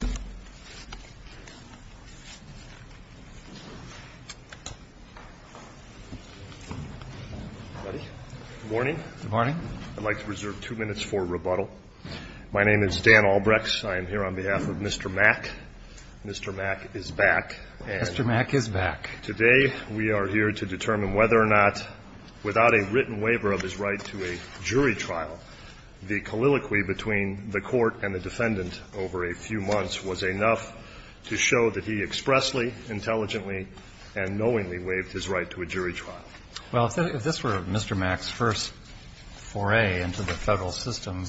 Good morning. I'd like to reserve two minutes for rebuttal. My name is Dan Albrechts. I am here on behalf of Mr. Mack. Mr. Mack is back. Mr. Mack is back. Today we are here to determine whether or not, without a written waiver of his right to a jury trial, the colloquy between the court and the defendant over a few months was enough to show that he expressly, intelligently, and knowingly waived his right to a jury trial. Well, if this were Mr. Mack's first foray into the federal system,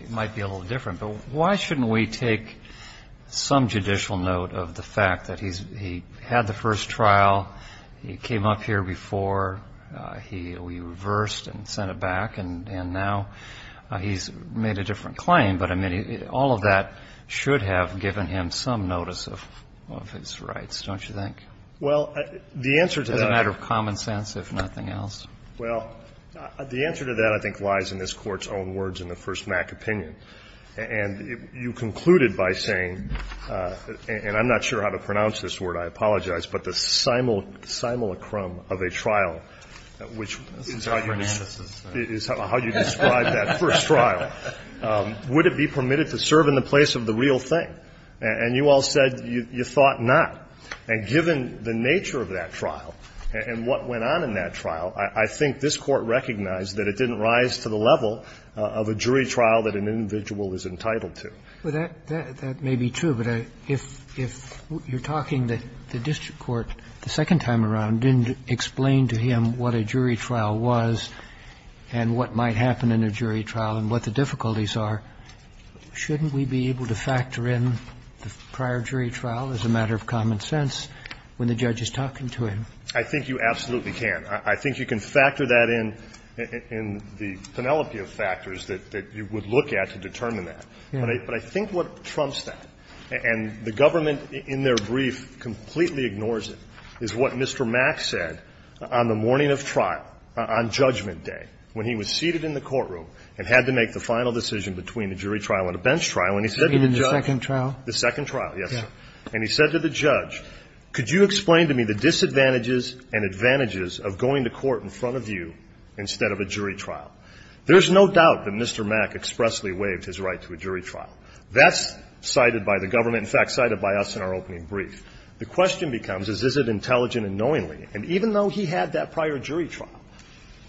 it might be a little different. But why shouldn't we take some judicial note of the fact that he had the He's made a different claim, but, I mean, all of that should have given him some notice of his rights, don't you think? Well, the answer to that — As a matter of common sense, if nothing else. Well, the answer to that, I think, lies in this Court's own words in the first Mack opinion. And you concluded by saying, and I'm not sure how to pronounce this word, I apologize, but the simulacrum of a trial, which is how you — This is how Fernandez is — Is how you described that first trial. Would it be permitted to serve in the place of the real thing? And you all said you thought not. And given the nature of that trial and what went on in that trial, I think this Court recognized that it didn't rise to the level of a jury trial that an individual is entitled to. Well, that may be true, but if you're talking that the district court the second time around didn't explain to him what a jury trial was and what might happen in a jury trial and what the difficulties are, shouldn't we be able to factor in the prior jury trial as a matter of common sense when the judge is talking to him? I think you absolutely can. I think you can factor that in, in the penelope of factors that you would look at to determine that. But I think what trumps that, and the government in their brief completely ignores it, is what Mr. Mack said on the morning of trial, on judgment day, when he was seated in the courtroom and had to make the final decision between a jury trial and a bench trial. And he said to the judge — You mean the second trial? The second trial, yes, sir. And he said to the judge, could you explain to me the disadvantages and advantages of going to court in front of you instead of a jury trial? There's no doubt that Mr. Mack expressly waived his right to a jury trial. That's cited by the government, in fact, cited by us in our opening brief. The question becomes is, is it intelligent and knowingly? And even though he had that prior jury trial,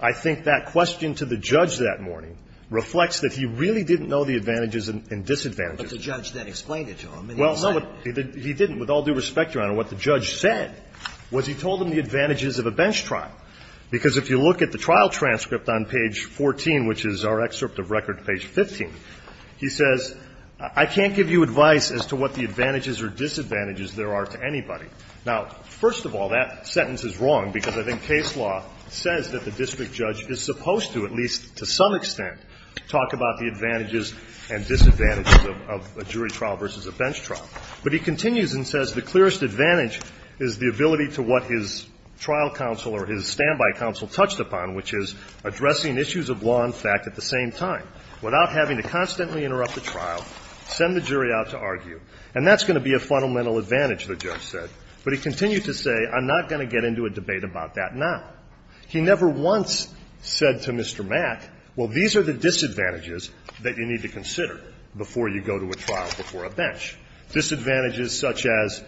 I think that question to the judge that morning reflects that he really didn't know the advantages and disadvantages. But the judge then explained it to him. Well, no, he didn't. With all due respect, Your Honor, what the judge said was he told him the advantages of a bench trial, because if you look at the trial transcript on page 14, which is our excerpt of record page 15, he says, I can't give you advice as to what the advantages or disadvantages there are to anybody. Now, first of all, that sentence is wrong, because I think case law says that the district judge is supposed to, at least to some extent, talk about the advantages and disadvantages of a jury trial versus a bench trial. But he continues and says the clearest advantage is the ability to what his trial counsel or his standby counsel touched upon, which is addressing issues of law and And that's going to be a fundamental advantage, the judge said. But he continued to say, I'm not going to get into a debate about that now. He never once said to Mr. Mack, well, these are the disadvantages that you need to consider before you go to a trial before a bench, disadvantages such as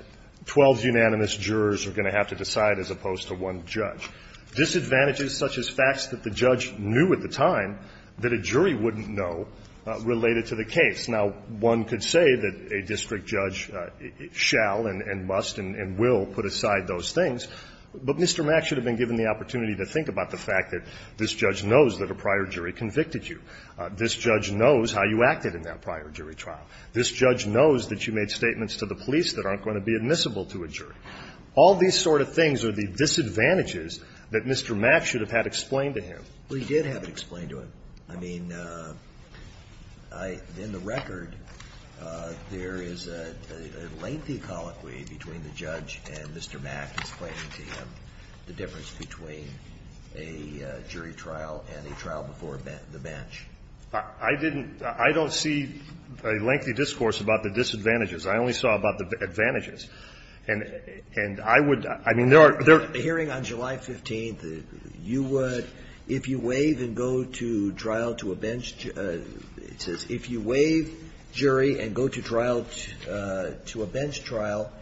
12 unanimous jurors are going to have to decide as opposed to one judge, disadvantages such as facts that the judge knew at the time that a jury wouldn't know related to the case. Now, one could say that a district judge shall and must and will put aside those things, but Mr. Mack should have been given the opportunity to think about the fact that this judge knows that a prior jury convicted you. This judge knows how you acted in that prior jury trial. This judge knows that you made statements to the police that aren't going to be admissible to a jury. All these sort of things are the disadvantages that Mr. Mack should have had explained to him. Well, he did have it explained to him. I mean, in the record, there is a lengthy colloquy between the judge and Mr. Mack explaining to him the difference between a jury trial and a trial before the bench. I didn't – I don't see a lengthy discourse about the disadvantages. I only saw about the advantages. And I would – I mean, there are – there are – I mean, you would – if you waive and go to trial to a bench – it says, if you waive jury and go to trial to a bench trial,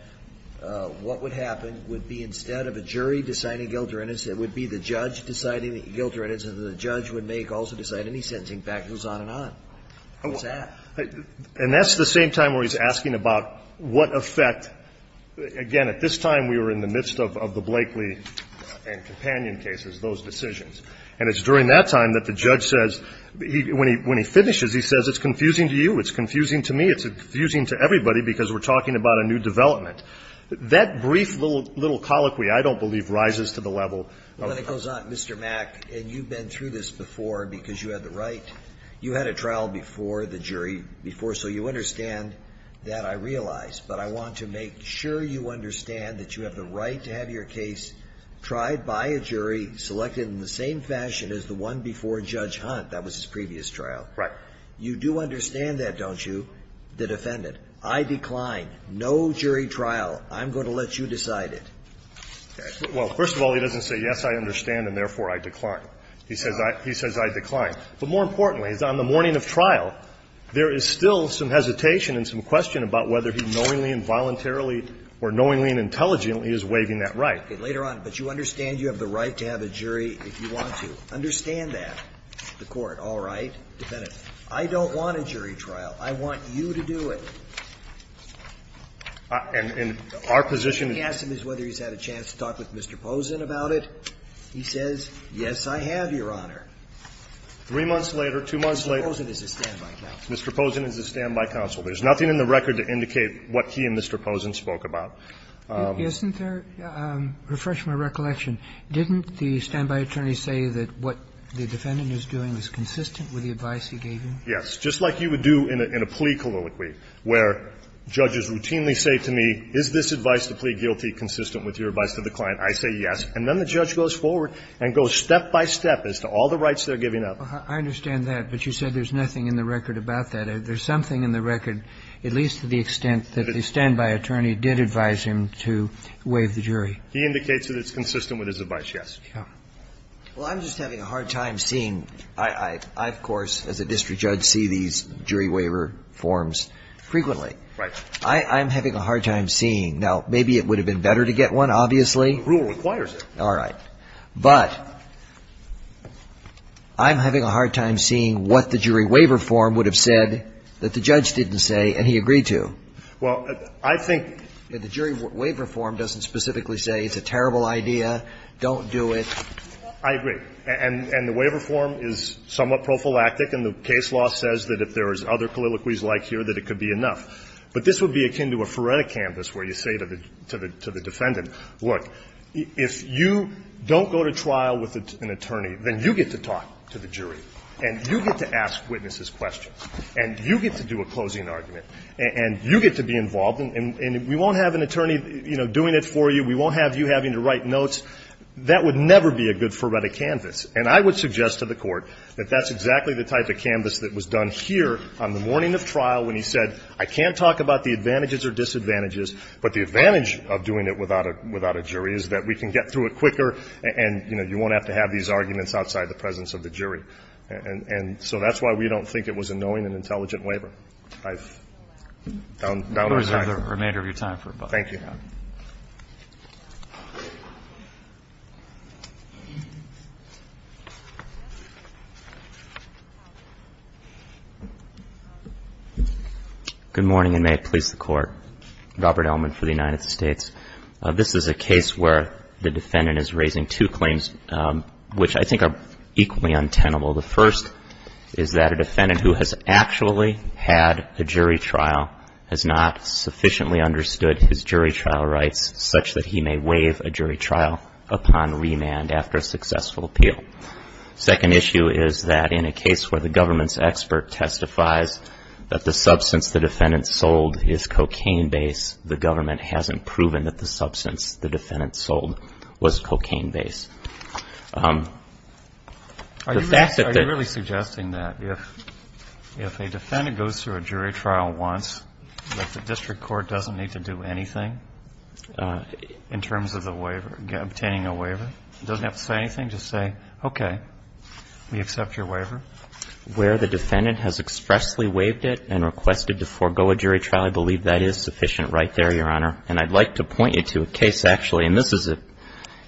what would happen would be instead of a jury deciding guilt or innocence, it would be the judge deciding guilt or innocence, and the judge would make also decide any sentencing factors on and on. What's that? And that's the same time where he's asking about what effect – again, at this time we were in the midst of the Blakeley and Companion cases, those decisions. And it's during that time that the judge says – when he finishes, he says, it's confusing to you, it's confusing to me, it's confusing to everybody because we're talking about a new development. That brief little colloquy, I don't believe, rises to the level of the judge. Well, then it goes on, Mr. Mack, and you've been through this before because you had the right – you had a trial before, the jury before, so you understand that I realize. But I want to make sure you understand that you have the right to have your case tried by a jury, selected in the same fashion as the one before Judge Hunt. That was his previous trial. Right. You do understand that, don't you, the defendant? I decline. No jury trial. I'm going to let you decide it. Well, first of all, he doesn't say, yes, I understand, and therefore I decline. He says I decline. But more importantly, on the morning of trial, there is still some hesitation and some question about whether he knowingly and voluntarily or knowingly and intelligently is waiving that right. Later on, but you understand you have the right to have a jury if you want to. Understand that, the Court. All right. Defendant, I don't want a jury trial. I want you to do it. And our position is whether he's had a chance to talk with Mr. Posen about it. He says, yes, I have, Your Honor. Three months later, two months later. Mr. Posen is a standby counsel. Mr. Posen is a standby counsel. There's nothing in the record to indicate what he and Mr. Posen spoke about. Isn't there – refresh my recollection. Didn't the standby attorney say that what the defendant is doing is consistent with the advice he gave you? Yes. Just like you would do in a plea colloquy, where judges routinely say to me, is this advice to plea guilty consistent with your advice to the client? I say yes. And then the judge goes forward and goes step by step as to all the rights they're giving up. I understand that, but you said there's nothing in the record about that. There's something in the record, at least to the extent that the standby attorney did advise him to waive the jury. He indicates that it's consistent with his advice, yes. Well, I'm just having a hard time seeing – I, of course, as a district judge, see these jury waiver forms frequently. Right. I'm having a hard time seeing – now, maybe it would have been better to get one, obviously. Rule requires it. All right. But I'm having a hard time seeing what the jury waiver form would have said that the judge didn't say and he agreed to. Well, I think – The jury waiver form doesn't specifically say it's a terrible idea, don't do it. I agree. And the waiver form is somewhat prophylactic, and the case law says that if there is other colloquies like here, that it could be enough. But this would be akin to a phoretic canvas where you say to the defendant, look, if you don't go to trial with an attorney, then you get to talk to the jury and you get to ask witnesses questions and you get to do a closing argument and you get to be involved. And we won't have an attorney, you know, doing it for you. We won't have you having to write notes. That would never be a good phoretic canvas. And I would suggest to the Court that that's exactly the type of canvas that was done here on the morning of trial when he said, I can't talk about the advantages or disadvantages, but the advantage of doing it without a jury is that we can get through it quicker and, you know, you won't have to have these arguments outside the presence of the jury. And so that's why we don't think it was a knowing and intelligent waiver. I've done my time. I'll reserve the remainder of your time for a moment. Thank you. Good morning, and may it please the Court. Robert Ellman for the United States. This is a case where the defendant is raising two claims, which I think are equally untenable. The first is that a defendant who has actually had a jury trial has not sufficiently understood his jury trial rights such that he may waive a jury trial upon remand after a successful appeal. The second issue is that in a case where the government's expert testifies that the substance the defendant sold is cocaine-based, the government hasn't proven that the substance the defendant sold was cocaine-based. Are you really suggesting that if a defendant goes through a jury trial once, that the government doesn't need to do anything in terms of obtaining a waiver? It doesn't have to say anything. Just say, okay, we accept your waiver. Where the defendant has expressly waived it and requested to forego a jury trial, I believe that is sufficient right there, Your Honor. And I'd like to point you to a case actually, and this is a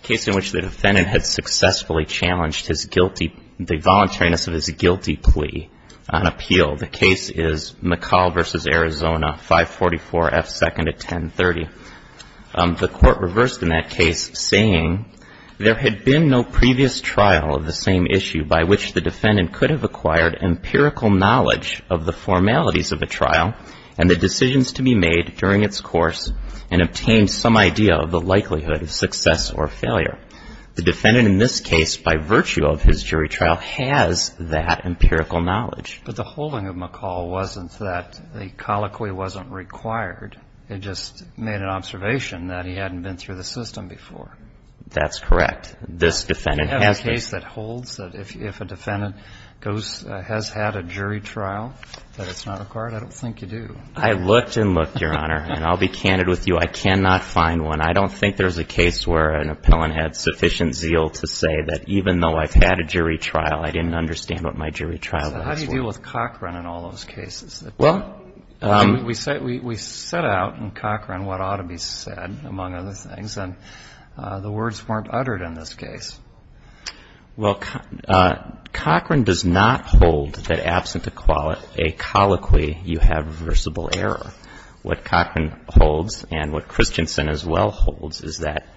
case in which the defendant had successfully challenged the voluntariness of his guilty plea on appeal. The case is McCall v. Arizona, 544 F. 2nd at 1030. The court reversed in that case, saying, there had been no previous trial of the same issue by which the defendant could have acquired empirical knowledge of the formalities of a trial and the decisions to be made during its course and obtained some idea of the likelihood of success or failure. The defendant in this case, by virtue of his jury trial, has that empirical knowledge. But the holding of McCall wasn't that a colloquy wasn't required. It just made an observation that he hadn't been through the system before. That's correct. This defendant has been. Do you have a case that holds that if a defendant has had a jury trial, that it's not required? I don't think you do. I looked and looked, Your Honor, and I'll be candid with you. I cannot find one. I don't think there's a case where an appellant had sufficient zeal to say that even though I've had a jury trial, I didn't understand what my jury trial was. So how do you deal with Cochran in all those cases? Well, we set out in Cochran what ought to be said, among other things, and the words weren't uttered in this case. Well, Cochran does not hold that absent a colloquy, you have reversible error. What Cochran holds and what Christensen as well holds is that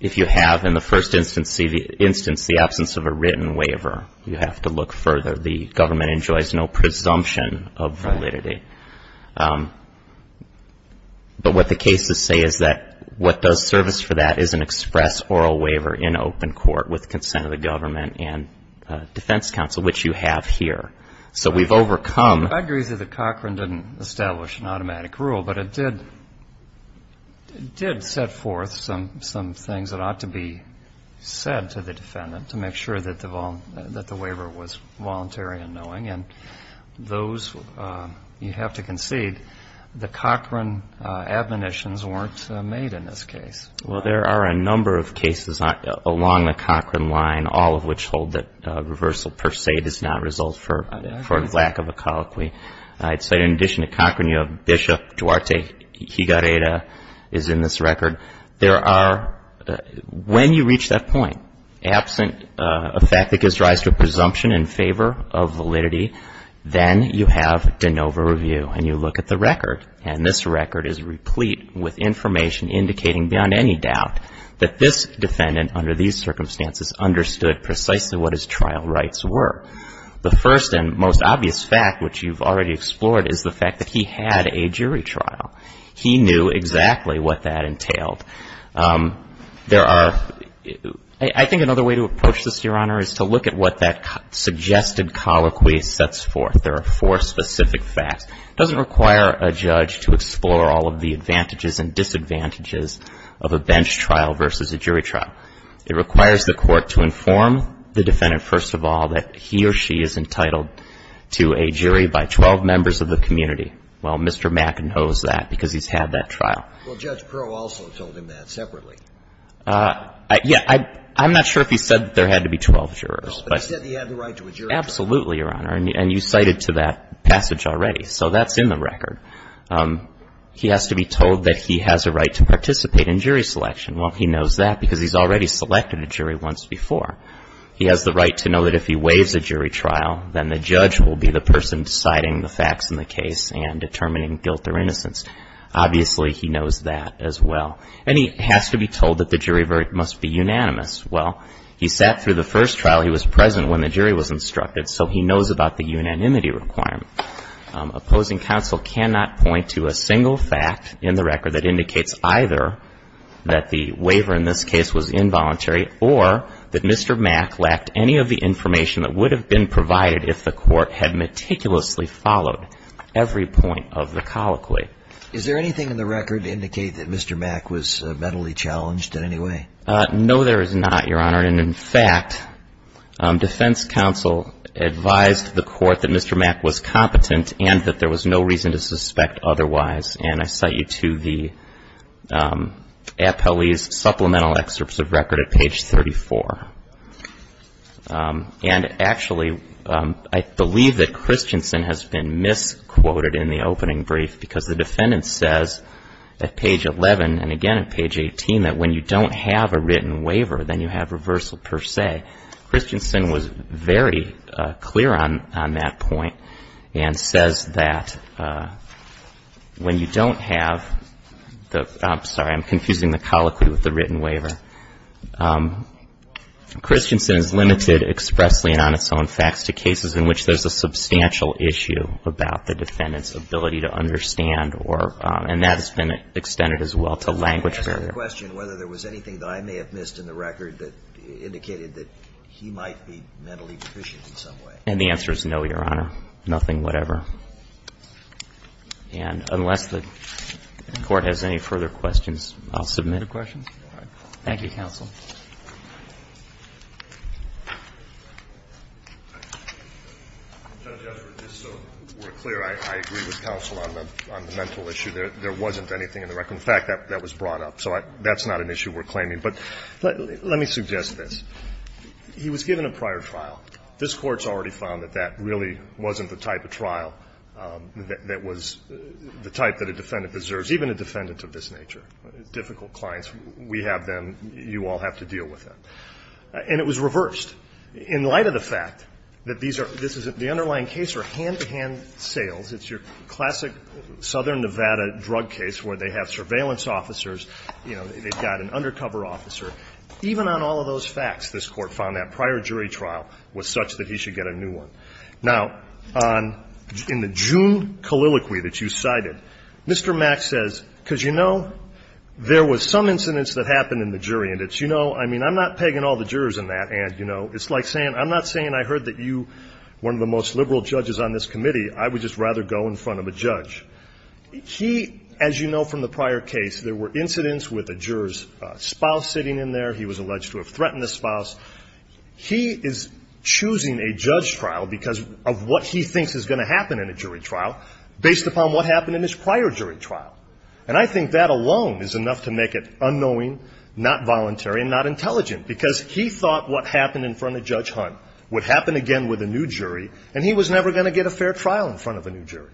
if you have in the first instance the absence of a written waiver, you have to look further. The government enjoys no presumption of validity. But what the cases say is that what does service for that is an express oral waiver in open court with consent of the government and defense counsel, which you have here. So we've overcome. I agree that Cochran didn't establish an automatic rule, but it did set forth some things that ought to be said to the defendant to make sure that the waiver was voluntary and knowing. And those, you have to concede, the Cochran admonitions weren't made in this case. Well, there are a number of cases along the Cochran line, all of which hold that reversal per se does not result for lack of a colloquy. I'd say in addition to Cochran, you have Bishop Duarte Higareda is in this record. There are, when you reach that point, absent a fact that gives rise to a presumption in favor of validity, then you have de novo review and you look at the record. And this record is replete with information indicating beyond any doubt that this defendant under these circumstances understood precisely what his trial rights were. The first and most obvious fact, which you've already explored, is the fact that he had a jury trial. He knew exactly what that entailed. There are, I think another way to approach this, Your Honor, is to look at what that suggested colloquy sets forth. There are four specific facts. It doesn't require a judge to explore all of the advantages and disadvantages of a bench trial versus a jury trial. It requires the court to inform the defendant, first of all, that he or she is entitled to a jury by 12 members of the community. Well, Mr. Mack knows that because he's had that trial. Well, Judge Crow also told him that separately. Yeah, I'm not sure if he said that there had to be 12 jurors. No, but he said that he had the right to a jury trial. Absolutely, Your Honor. And you cited to that passage already. So that's in the record. He has to be told that he has a right to participate in jury selection. Well, he knows that because he's already selected a jury once before. He has the right to know that if he waives a jury trial, then the judge will be the person deciding the facts in the case and determining guilt or innocence. Obviously, he knows that as well. And he has to be told that the jury must be unanimous. Well, he sat through the first trial. He was present when the jury was instructed. So he knows about the unanimity requirement. Opposing counsel cannot point to a single fact in the record that indicates either that the waiver in this case was involuntary or that Mr. Mack lacked any of the information that would have been provided if the court had meticulously followed every point of the colloquy. Is there anything in the record to indicate that Mr. Mack was mentally challenged in any way? No, there is not, Your Honor. And in fact, defense counsel advised the court that Mr. Mack was competent and that there was no reason to suspect otherwise. And I cite you to the appellee's supplemental excerpts of record at page 34. And actually, I believe that Christensen has been misquoted in the opening brief because the defendant says at page 11 and again at page 18 that when you don't have a written waiver, then you have reversal per se. Christensen was very clear on that point and says that when you don't have the – I'm Christensen is limited expressly and on its own facts to cases in which there's a substantial issue about the defendant's ability to understand or – and that has been extended as well to language barrier. I'm asking the question whether there was anything that I may have missed in the record that indicated that he might be mentally deficient in some way. And the answer is no, Your Honor, nothing, whatever. And unless the court has any further questions, I'll submit a question. Thank you, counsel. Judge Esper, just so we're clear, I agree with counsel on the mental issue. There wasn't anything in the record. In fact, that was brought up. So that's not an issue we're claiming. But let me suggest this. He was given a prior trial. This Court's already found that that really wasn't the type of trial that was the type that a defendant deserves, even a defendant of this nature. Difficult clients. We have them. You all have to deal with them. And it was reversed. In light of the fact that these are – this is – the underlying case are hand-to-hand sales. It's your classic Southern Nevada drug case where they have surveillance officers, you know, they've got an undercover officer. Even on all of those facts, this Court found that prior jury trial was such that he should get a new one. Now, on – in the June calliloquy that you cited, Mr. Mack says, because you know, there was some incidents that happened in the jury. And it's, you know, I mean, I'm not pegging all the jurors in that. And, you know, it's like saying – I'm not saying I heard that you, one of the most liberal judges on this committee, I would just rather go in front of a judge. He, as you know from the prior case, there were incidents with a juror's spouse sitting in there. He was alleged to have threatened the spouse. He is choosing a judge trial because of what he thinks is going to happen in a jury trial based upon what happened in his prior jury trial. And I think that alone is enough to make it unknowing, not voluntary, and not intelligent. Because he thought what happened in front of Judge Hunt would happen again with a new jury, and he was never going to get a fair trial in front of a new jury.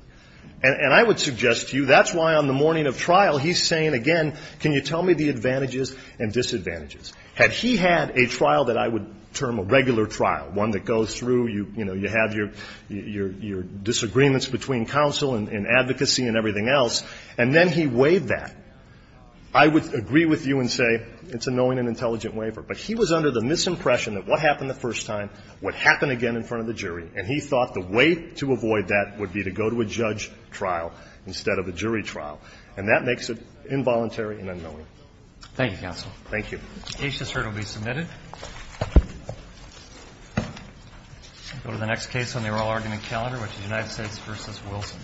And I would suggest to you, that's why on the morning of trial, he's saying again, can you tell me the advantages and disadvantages? Had he had a trial that I would term a regular trial, one that goes through, you know, you have your – your disagreements between counsel and advocacy and everything else, and then he waived that, I would agree with you and say it's a knowing and intelligent waiver. But he was under the misimpression that what happened the first time would happen again in front of the jury. And he thought the way to avoid that would be to go to a judge trial instead of a jury trial. And that makes it involuntary and unknowing. Thank you, counsel. Thank you. The case has heard and will be submitted. I'll go to the next case on the oral argument calendar, which is United States v. Wilson.